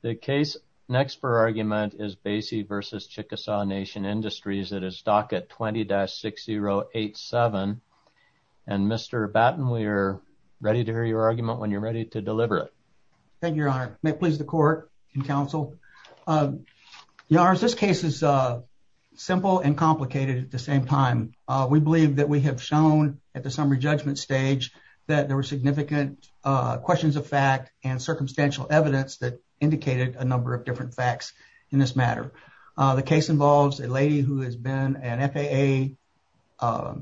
The case next for argument is Bacy v. Chickasaw Nation Industries. It is docket 20-6087. And Mr. Batten, we are ready to hear your argument when you're ready to deliver it. Thank you, Your Honor. May it please the court and counsel. Your Honors, this case is simple and complicated at the same time. We believe that we have shown at the summary judgment stage that there were significant questions of fact and circumstantial evidence that indicated a number of different facts in this matter. The case involves a lady who has been an FAA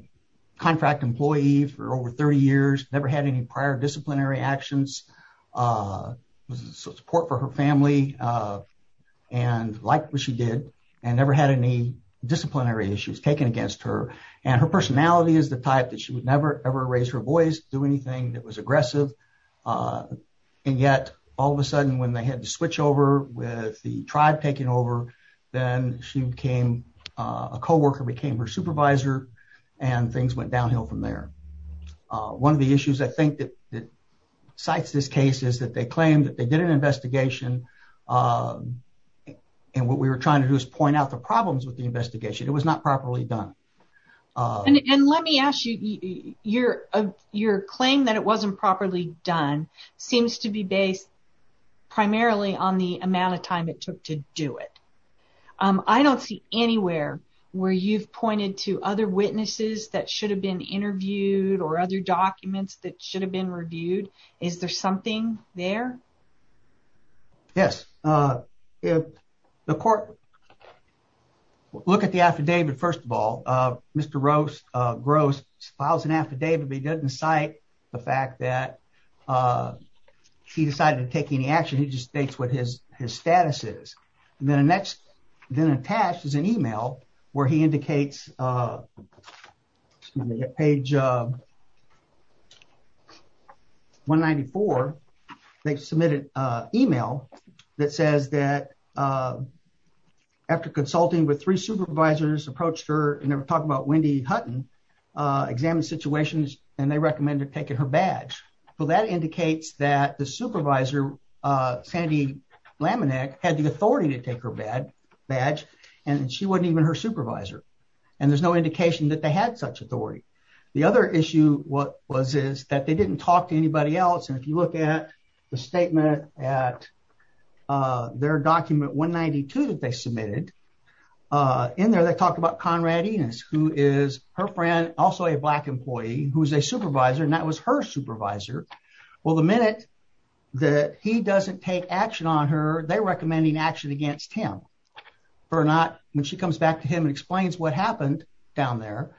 contract employee for over 30 years, never had any prior disciplinary actions, support for her family, and liked what she did, and never had any disciplinary issues taken against her. And her personality is the type that she would never ever raise her voice, do anything that was aggressive. And yet, all of a sudden, when they had to switch over with the tribe taking over, then she became a co-worker, became her supervisor, and things went downhill from there. One of the issues I think that cites this case is that they claim that they did an investigation, and what we were trying to do is point out the problems with the investigation. It was not properly done. And let me ask you, your claim that it wasn't properly done seems to be based primarily on the amount of time it took to do it. I don't see anywhere where you've pointed to other witnesses that should have been interviewed or other documents that should have been reviewed. Is there something there? Yes. Look at the affidavit, first of all. Mr. Gross files an affidavit, but he doesn't cite the fact that he decided to take any action. He just states what he did. In 1994, they submitted an email that says that after consulting with three supervisors, approached her, and they were talking about Wendy Hutton, examined situations, and they recommended taking her badge. Well, that indicates that the supervisor, Sandy Laminack, had the authority to take her badge, and she wasn't even her supervisor. And there's no indication that had such authority. The other issue was that they didn't talk to anybody else. And if you look at the statement at their document 192 that they submitted, in there they talked about Conrad Enos, who is her friend, also a black employee, who's a supervisor, and that was her supervisor. Well, the minute that he doesn't take action on her, they're recommending action against him. When she comes back to him and explains what happened down there,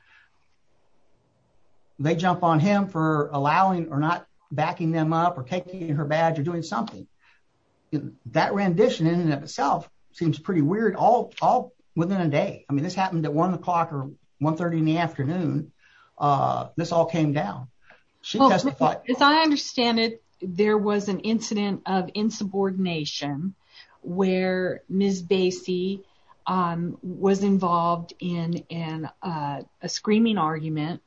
they jump on him for allowing or not backing them up or taking her badge or doing something. That rendition in and of itself seems pretty weird all within a day. I mean, this happened at one o'clock or 1 30 in the afternoon. This all came down. As I understand it, there was an incident of insubordination where Ms. Bassey was involved in a screaming argument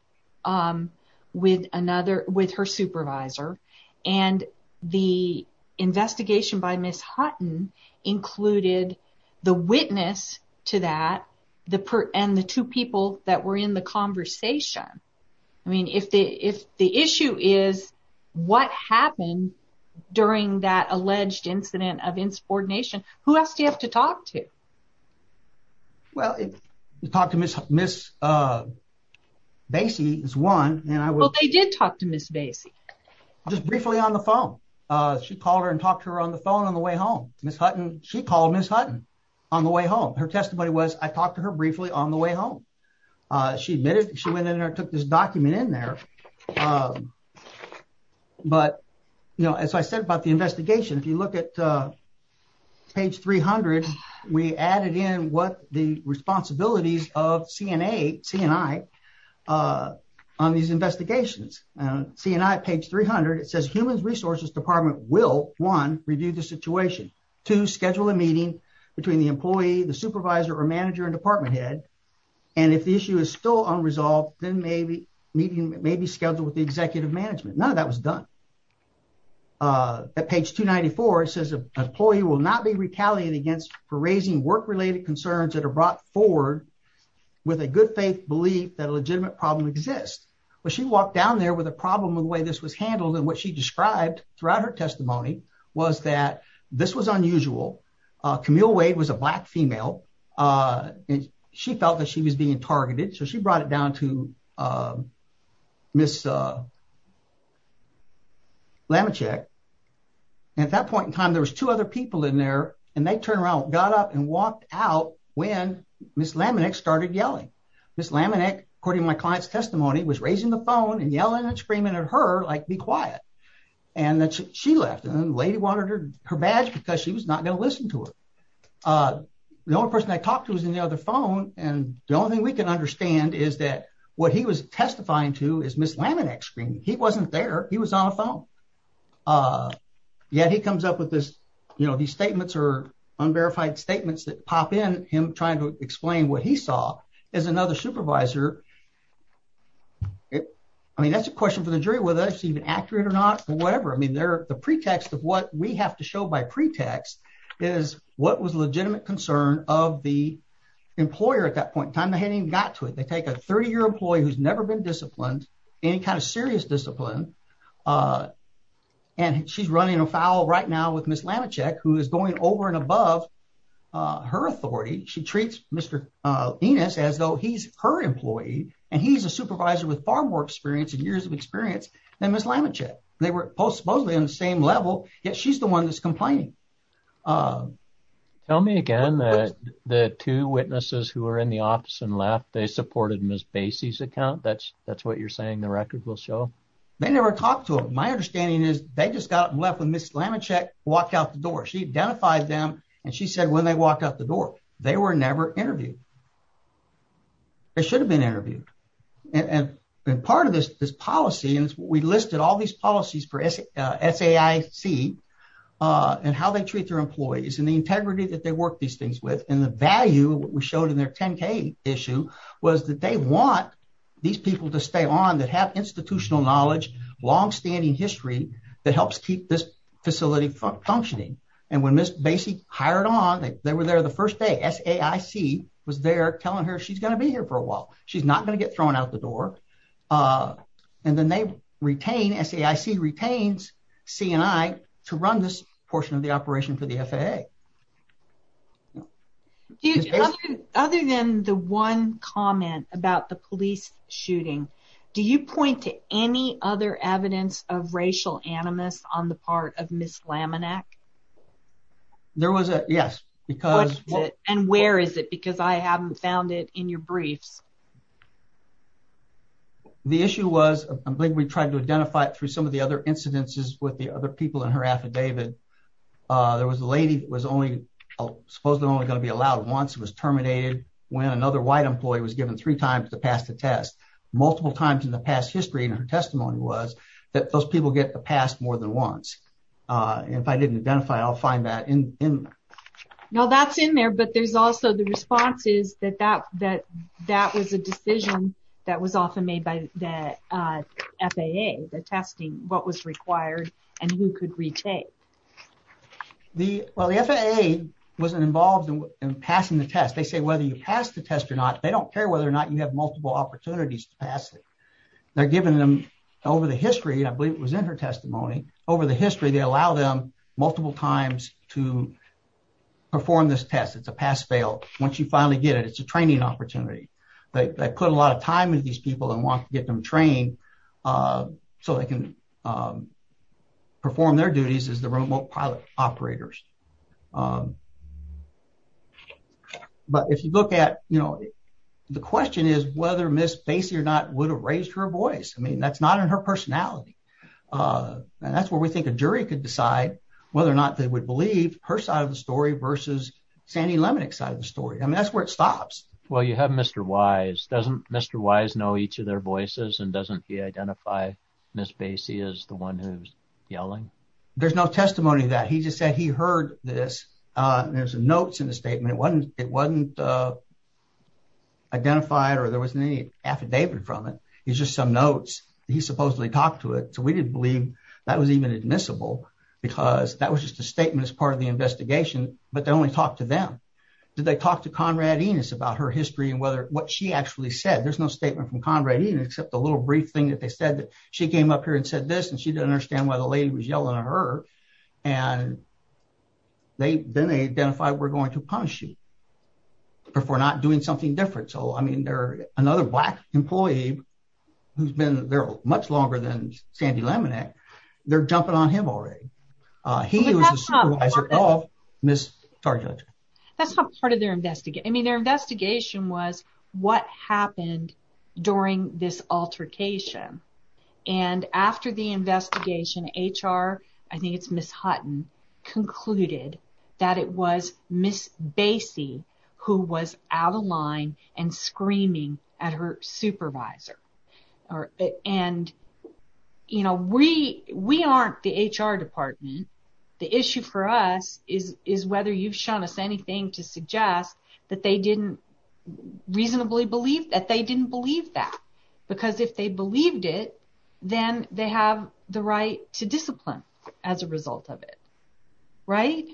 with her supervisor, and the investigation by Ms. Hutton included the witness to that and the two people that were in the conversation. I mean, if the issue is what happened during that alleged incident of insubordination, who else do you have to talk to? Well, talk to Ms. Bassey is one. Well, they did talk to Ms. Bassey. Just briefly on the phone. She called her and talked to her on the phone on the way home. She called Ms. Hutton on the way home. Her testimony was, I talked to her briefly on the way home. She took this document in there. As I said about the investigation, if you look at page 300, we added in what the responsibilities of C&I on these investigations. C&I page 300, humans resources department will, one, review the situation, two, schedule a meeting between the employee, the supervisor or manager and department head, and if the issue is still unresolved, then maybe meeting may be scheduled with the executive management. None of that was done. At page 294, it says an employee will not be retaliated against for raising work-related concerns that are brought forward with a good faith belief that a legitimate problem exists. She walked down there with a problem with the way this was handled and what she described throughout her testimony was that this was unusual. Camille Wade was a black female. She felt that she was being targeted, so she brought it down to Ms. Lamachick. At that point in time, there was two other people in there, and they turned around, got up and walked out when Ms. Lamachick started yelling. Ms. Lamachick, according to my client's phone, was yelling and screaming at her to be quiet. She left, and the lady wanted her badge because she was not going to listen to her. The only person I talked to was on the other phone, and the only thing we can understand is that what he was testifying to was Ms. Lamachick screaming. He wasn't there. He was on the phone. Yet, he comes up with these statements, unverified statements that pop in him trying to explain what he saw as another supervisor I mean, that's a question for the jury whether that's even accurate or not, whatever. I mean, the pretext of what we have to show by pretext is what was a legitimate concern of the employer at that point in time. They hadn't even got to it. They take a 30-year employee who's never been disciplined, any kind of serious discipline, and she's running afoul right now with Ms. Lamachick, who is going over and above her authority. She treats Mr. Enos as though he's her employee, and he's a supervisor with far more experience and years of experience than Ms. Lamachick. They were both supposedly on the same level, yet she's the one that's complaining. Tell me again that the two witnesses who were in the office and left, they supported Ms. Bassey's account? That's what you're saying the record will show? They never talked to him. My understanding is they just got left when Ms. Lamachick walked out the door. She identified them, and she said when they walked out the door, they were never interviewed. They should have been interviewed. Part of this policy, and we listed all these policies for SAIC and how they treat their employees and the integrity that they work these things with and the value we showed in their 10K issue was that they want these people to stay on that have institutional knowledge, long-standing history that helps keep this facility functioning. When Ms. Bassey hired on, they were there the first day. SAIC was there telling her she's going to be here for a while. She's not going to get thrown out the door, and then SAIC retains C&I to run this portion of the operation for the FAA. Other than the one comment about the police shooting, do you point to any other evidence of racial animus on the part of Ms. Lamachick? There was, yes. And where is it? Because I haven't found it in your briefs. The issue was, I think we tried to identify it through some of the other incidences with the other people in her affidavit. There was a lady that was only supposed to only be allowed once. It was terminated when another white employee was given three times to pass the test. Multiple times in the past history in her testimony was that those people get the pass more than once. If I didn't identify it, I'll find that in there. No, that's in there, but there's also the responses that that was a decision that was often made by the FAA, the testing, what was required and who could retake. Well, the FAA wasn't involved in passing the test. They say whether you pass the test or not, they don't care whether or not you have multiple opportunities to pass it. They're giving them over the history, and I believe it was in her testimony, over the history, they allow them multiple times to perform this test. It's a pass-fail. Once you finally get it, it's a training opportunity. They put a lot of time into these people and want to get them trained so they can perform their duties as the remote pilot operators. But if you look at, you know, the question is whether Ms. Basie or not would have raised her voice. I mean, that's not in her personality. And that's where we think a jury could decide whether or not they would believe her side of the story versus Sandy Lemonick's side of the story. I mean, that's where it stops. Well, you have Mr. Wise. Doesn't Mr. Wise know each of their voices and doesn't he identify Ms. Basie as the one who's yelling? There's no testimony to that. He just said he heard this. There's notes in the statement. It wasn't identified or there wasn't any affidavit from it. It's just some notes. He supposedly talked to it. So we didn't believe that was even admissible because that was just a statement as part of the investigation, but they only talked to them. Did they talk to Conrad Enos about her history and what she actually said? There's no statement from Conrad Enos except a little brief thing that they said that she came up here and said this and she didn't understand why the lady was yelling at her. And then they identified we're going to punish you for not doing something different. So, I mean, they're another black employee who's been there much longer than Sandy Lemonick. They're jumping on him already. He was the supervisor of Ms. Targulich. That's not part of their investigation. I mean, their investigation was what happened during this I think it's Ms. Hutton concluded that it was Ms. Bassey who was out of line and screaming at her supervisor. And, you know, we aren't the HR department. The issue for us is whether you've shown us anything to suggest that they didn't reasonably believe that they didn't believe that. Because if they believed it, then they have the right to discipline as a result of it. Right?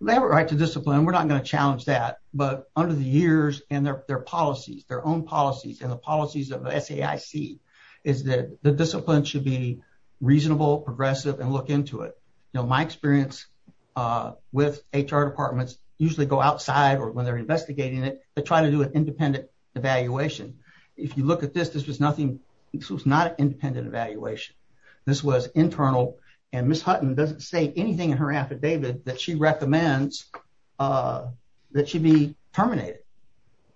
They have a right to discipline. We're not going to challenge that. But under the years and their policies, their own policies and the policies of SAIC is that the discipline should be reasonable, progressive and look into it. You know, my experience with HR departments usually go or when they're investigating it, they try to do an independent evaluation. If you look at this, this was nothing. This was not an independent evaluation. This was internal. And Ms. Hutton doesn't say anything in her affidavit that she recommends that she be terminated.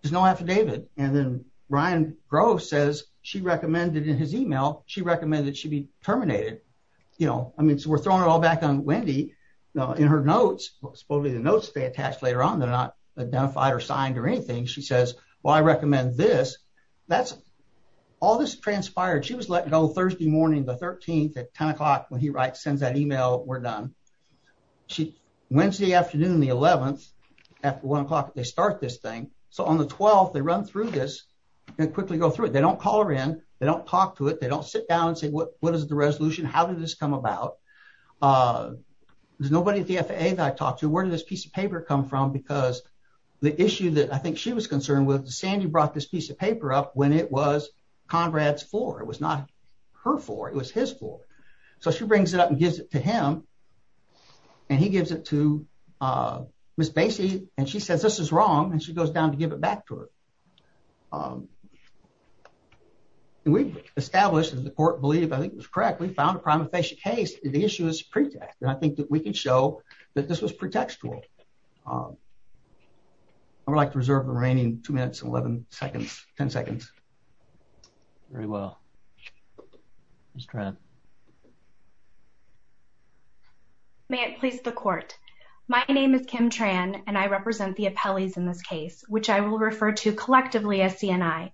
There's no affidavit. And then Brian Groves says she recommended in his email, she recommended she be terminated. You know, I mean, so we're throwing it all back on Wendy in her notes, supposedly the notes they attach later on, they're not identified or signed or anything. She says, well, I recommend this. That's all this transpired. She was letting go Thursday morning, the 13th at 10 o'clock when he writes, sends that email, we're done. She Wednesday afternoon, the 11th, after one o'clock, they start this thing. So on the 12th, they run through this and quickly go through it. They don't call her in. They don't talk to it. They don't sit down and say, what is the resolution? How did this come about? There's nobody at the FAA that I've talked to. Where did this piece of paper come from? Because the issue that I think she was concerned with, Sandy brought this piece of paper up when it was Conrad's floor. It was not her floor. It was his floor. So she brings it up and gives it to him. And he gives it to Ms. Basie. And she says, this is wrong. And she goes down to give it back to her. And we've established that the we found a prima facie case. The issue is pretext. And I think that we can show that this was pretextual. I would like to reserve the remaining two minutes and 11 seconds, 10 seconds. Very well. Ms. Tran. May it please the court. My name is Kim Tran, and I represent the appellees in this case, which I will refer to collectively as CNI.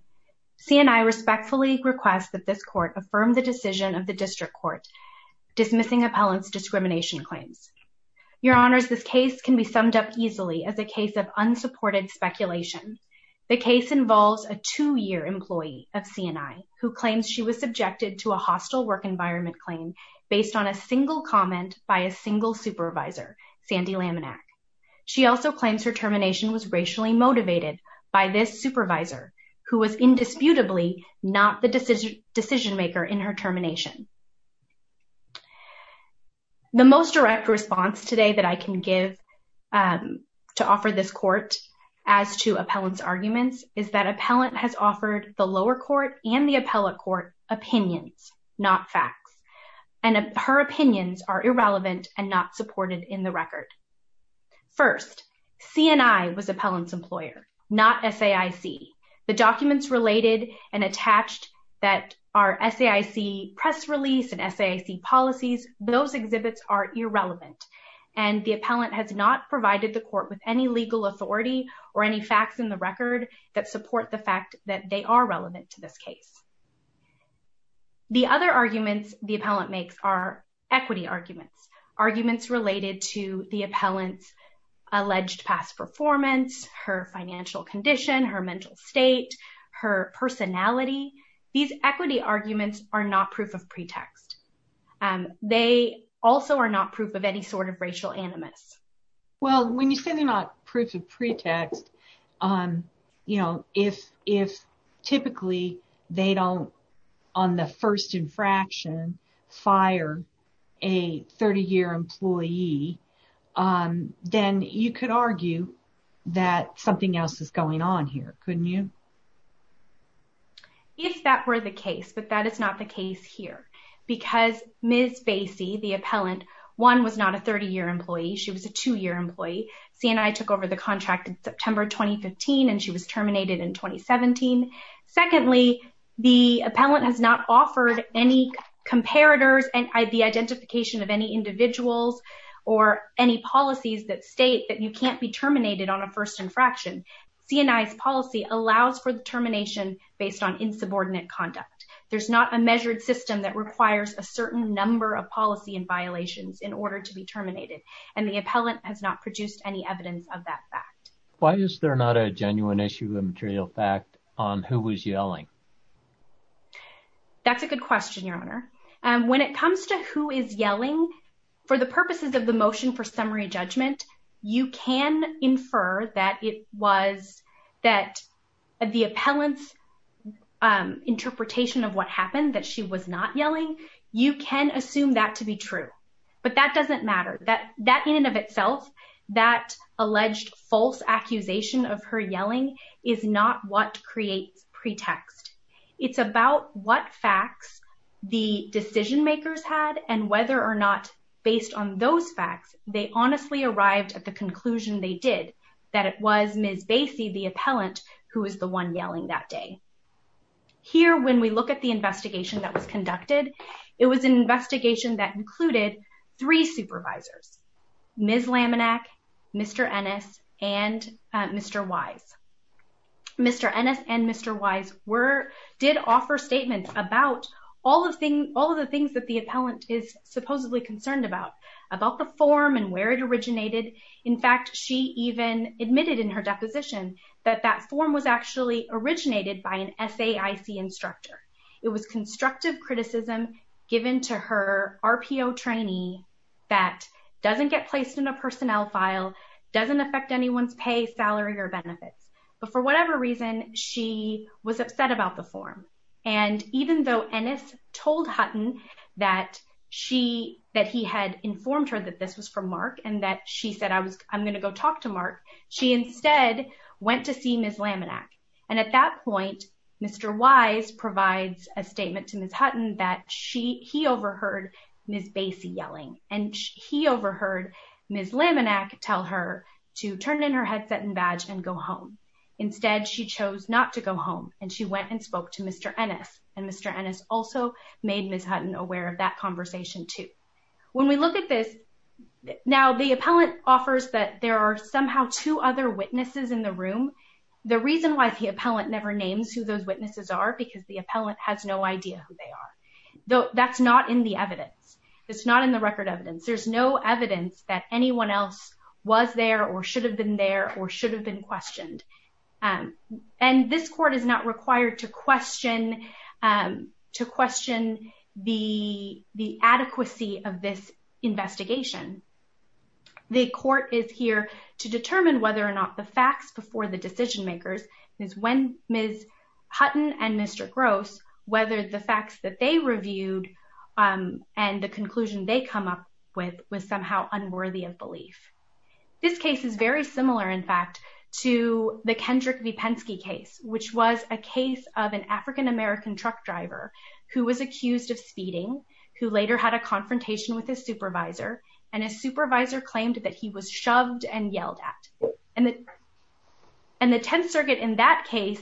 CNI respectfully requests that this court affirm the decision of the district court dismissing appellant's discrimination claims. Your honors, this case can be summed up easily as a case of unsupported speculation. The case involves a two-year employee of CNI who claims she was subjected to a hostile work environment claim based on a single comment by a single supervisor, Sandy Laminack. She also claims her termination was racially motivated by this supervisor who was indisputably not the decision maker in her termination. The most direct response today that I can give to offer this court as to appellant's arguments is that appellant has offered the lower court and the appellate court opinions, not facts. And her opinions are irrelevant and not supported in the record. First, CNI was appellant's employer, not SAIC. The documents related and attached that are SAIC press release and SAIC policies, those exhibits are irrelevant. And the appellant has not provided the court with any legal authority or any facts in the record that support the fact that they are relevant to this case. The other arguments the appellant makes are equity arguments, arguments related to the appellant's alleged past performance, her financial condition, her mental state, her personality. These equity arguments are not proof of pretext. They also are not proof of any sort of racial animus. Well, when you say they're not proof of pretext, you know, if typically they don't, on the first infraction, fire a 30-year employee, then you could argue that something else is going on here, couldn't you? If that were the case, but that is not the case here, because Ms. Bassey, the appellant, one, was not a 30-year employee. She was a two-year employee. CNI took over the contract in September 2015, and she was terminated in 2017. Secondly, the appellant has not offered any comparators and the identification of any individuals or any policies that state that you can't be terminated on a first infraction. CNI's policy allows for the termination based on insubordinate conduct. There's not a measured system that requires a certain number of policy and violations in order to be terminated, and the appellant has not produced any evidence of that fact. Why is there not a genuine issue of material fact on who was yelling? That's a good question, Your Honor. When it comes to who is yelling, for the purposes of the motion for summary judgment, you can infer that it was that the appellant's interpretation of what happened, that she was not yelling. You can assume that to be true, but that doesn't matter. That, in and of itself, that alleged false accusation of her yelling is not what creates pretext. It's about what facts the decision-makers had and whether or not, based on those facts, they honestly arrived at the conclusion they did, that it was Ms. Basie, the appellant, who was the one yelling that day. Here, when we look at the investigation that was conducted, it was an investigation that included three supervisors, Ms. Laminack, Mr. Ennis, and Mr. Wise. Mr. Ennis and Mr. Wise did offer statements about all of the things that the appellant is supposedly concerned about, about the form and where it originated. In fact, she even admitted in her deposition that that form was actually originated by an SAIC instructor. It was constructive criticism given to her RPO trainee that doesn't get placed in a personnel file, doesn't affect anyone's pay, salary, or benefits. But for whatever reason, she was upset about the form. And even though Ennis told Hutton that he had informed her that this was from Mark and that she said, I'm going to go talk to Mark, she instead went to see Ms. Laminack. And at that point, Mr. Wise provides a statement to Ms. Hutton that he overheard Ms. Basie yelling and he overheard Ms. Laminack tell her to turn in her headset and badge and go home. Instead, she chose not to go home and she went and spoke to Mr. Ennis. And Mr. Ennis also made Ms. Hutton aware of that conversation too. When we look at this, now the appellant offers that there are somehow two other witnesses in the room. The reason why the appellant never names who those witnesses are, because the appellant has no idea who they are. That's not in the evidence. It's not in the record evidence. There's no evidence that anyone else was there or should have been there or should have been questioned. And this court is not required to question the adequacy of this investigation. The court is here to determine whether or not the facts before the decision makers is when Ms. Hutton and Mr. Gross, whether the facts that they reviewed and the conclusion they come up with, was somehow unworthy of belief. This case is very similar, in fact, to the Kendrick Vipenski case, which was a case of an African-American truck driver who was accused of speeding, who later had a confrontation with his supervisor, and his supervisor claimed that he was shoved and yelled at. And the Tenth Circuit in that case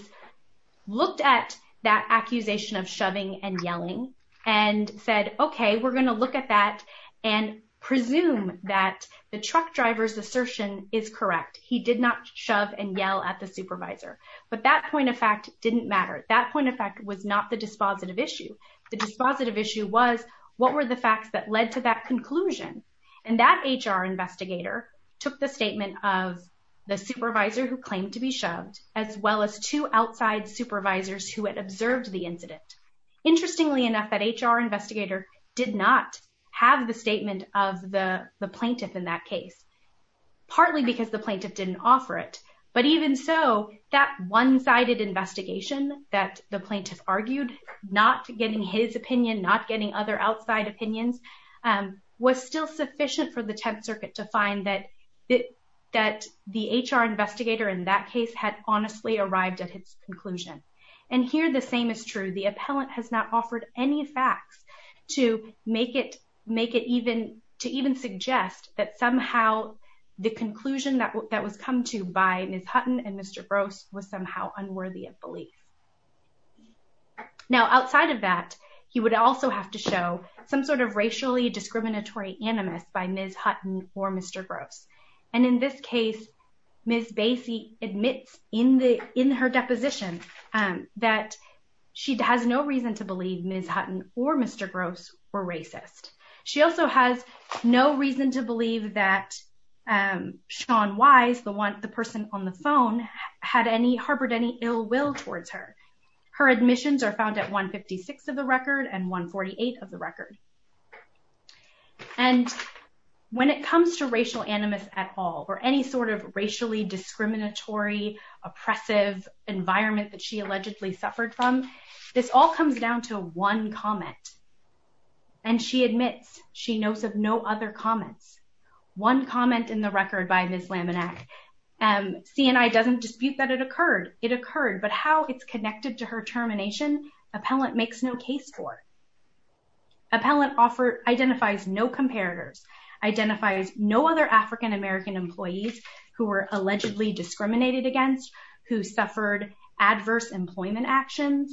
looked at that accusation of shoving and yelling and said, okay, we're going to look at that and presume that the truck driver's assertion is correct. He did not shove and yell at the supervisor. But that point of fact didn't matter. That point of fact was not the dispositive issue. The dispositive issue was what were the facts that led to that conclusion. And that HR investigator took the statement of the supervisor who claimed to be shoved, as well as two outside supervisors who had observed the incident. Interestingly enough, that HR investigator did not have the statement of the plaintiff in that case, partly because the plaintiff didn't offer it. But even so, that one-sided investigation that the plaintiff argued, not getting his opinion, not getting other outside opinions, was still sufficient for the Tenth Circuit to find that the HR investigator in that case had honestly arrived at his conclusion. And here, the same is true. The appellant has not offered any facts to even suggest that somehow the conclusion that was come to by Ms. Hutton and Mr. Gross was somehow unworthy of belief. Now, outside of that, he would also have to show some sort of racially discriminatory animus by Ms. Hutton or Mr. Gross. And in this case, Ms. Basie admits in her deposition that she has no reason to believe Ms. Hutton or Mr. Gross were racist. She also has no reason to believe that Sean Wise, the person on the phone, harbored any ill will towards her. Her admissions are found at 156 of the record and 148 of the record. And when it comes to racial animus at all, or any sort of racially discriminatory, oppressive environment that she allegedly suffered from, this all comes down to one comment. And she admits she knows of no other comments. One comment in the record by Ms. Laminack, C&I doesn't dispute that it occurred. It occurred, but how it's connected to her termination, appellant makes no case for. Appellant identifies no comparators, identifies no other African American employees who were allegedly discriminated against, who suffered adverse employment actions.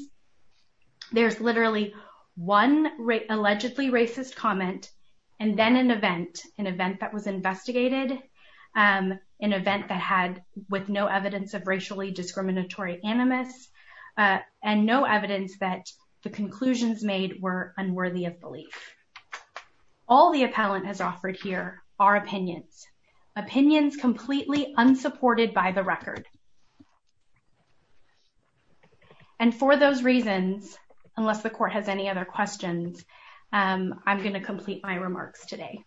There's literally one allegedly racist comment, and then an event, an event that was investigated, an event that had with no evidence of racially discriminatory animus, and no evidence that the conclusions made were unworthy of belief. All the appellant has offered here are opinions, opinions completely unsupported by the record. And for those reasons, unless the court has any other questions, I'm going to complete my remarks today.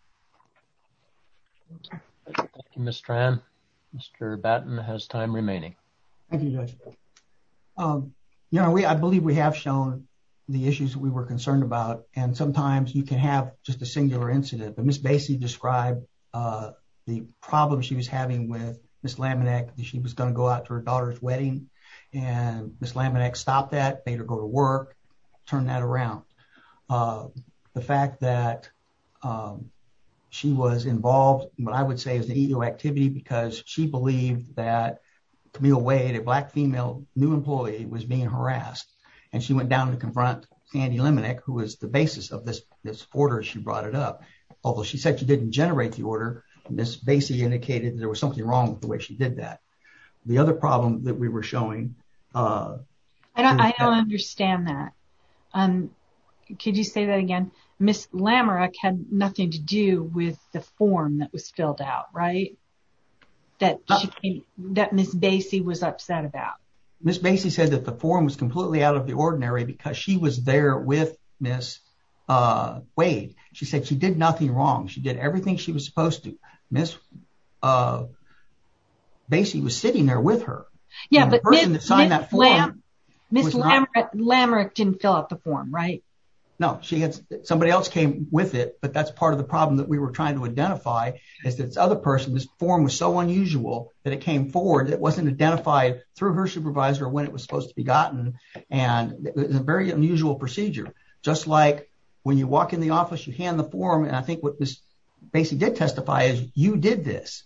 Thank you, Ms. Tran. Mr. Batten has time remaining. Thank you, Judge. You know, I believe we have shown the issues that we were concerned about, and sometimes you can have just a singular incident. But Ms. Bassey described the problem she was having with Ms. Laminack, that she was going to go out to her daughter's wedding, and Ms. Laminack stopped that, made her go to work, turned that around. The fact that she was involved in what I would say is an ego activity, because she believed that Camille Wade, a Black female new employee, was being harassed, and she went down to confront Sandy Laminack, who was the basis of this order she brought it up. Although she said she didn't generate the order, Ms. Bassey indicated there was something wrong with the way she did that. The other problem that we were showing... I don't understand that. Could you say that again? Ms. Laminack had nothing to do with the form that was filled out, right? That Ms. Bassey was upset about. Ms. Bassey said that the form was completely out of the ordinary because she was there with Ms. Wade. She said she did nothing wrong. She did everything she was supposed to. Ms. Bassey was sitting there with her. The person that signed that form... Ms. Laminack didn't fill out the form, right? No. Somebody else came with it, but that's part of the problem that we were trying to identify. This other person's form was so unusual that it came forward. It wasn't identified through her supervisor when it was supposed to be gotten, and it was a very unusual procedure. Just like when you walk in the office, you hand the form, and I think what Ms. Bassey did testify is, you did this.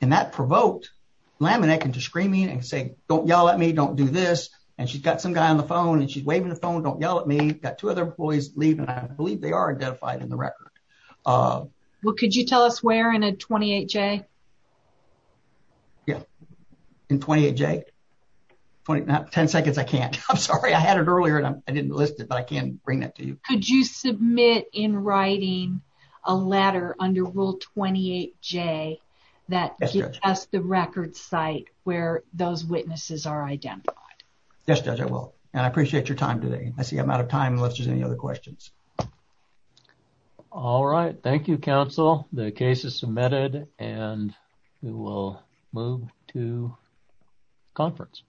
That provoked Ms. Laminack into screaming and saying, don't yell at me, don't do this. She's got some guy on the phone, and she's waving the phone, don't yell at me. I've got two other employees leaving, and I believe they are identified in the record. Could you tell us where in a 28J? Yeah, in 28J. 10 seconds, I can't. I'm sorry. I had it earlier, and I didn't list it, but I can bring it to you. Could you submit in writing a letter under Rule 28J that gives us the record site where those witnesses are identified? Yes, Judge, I will, and I appreciate your time today. I see I'm out of time unless there's any other questions. All right. Thank you, counsel. The case is submitted, and we will move to conference.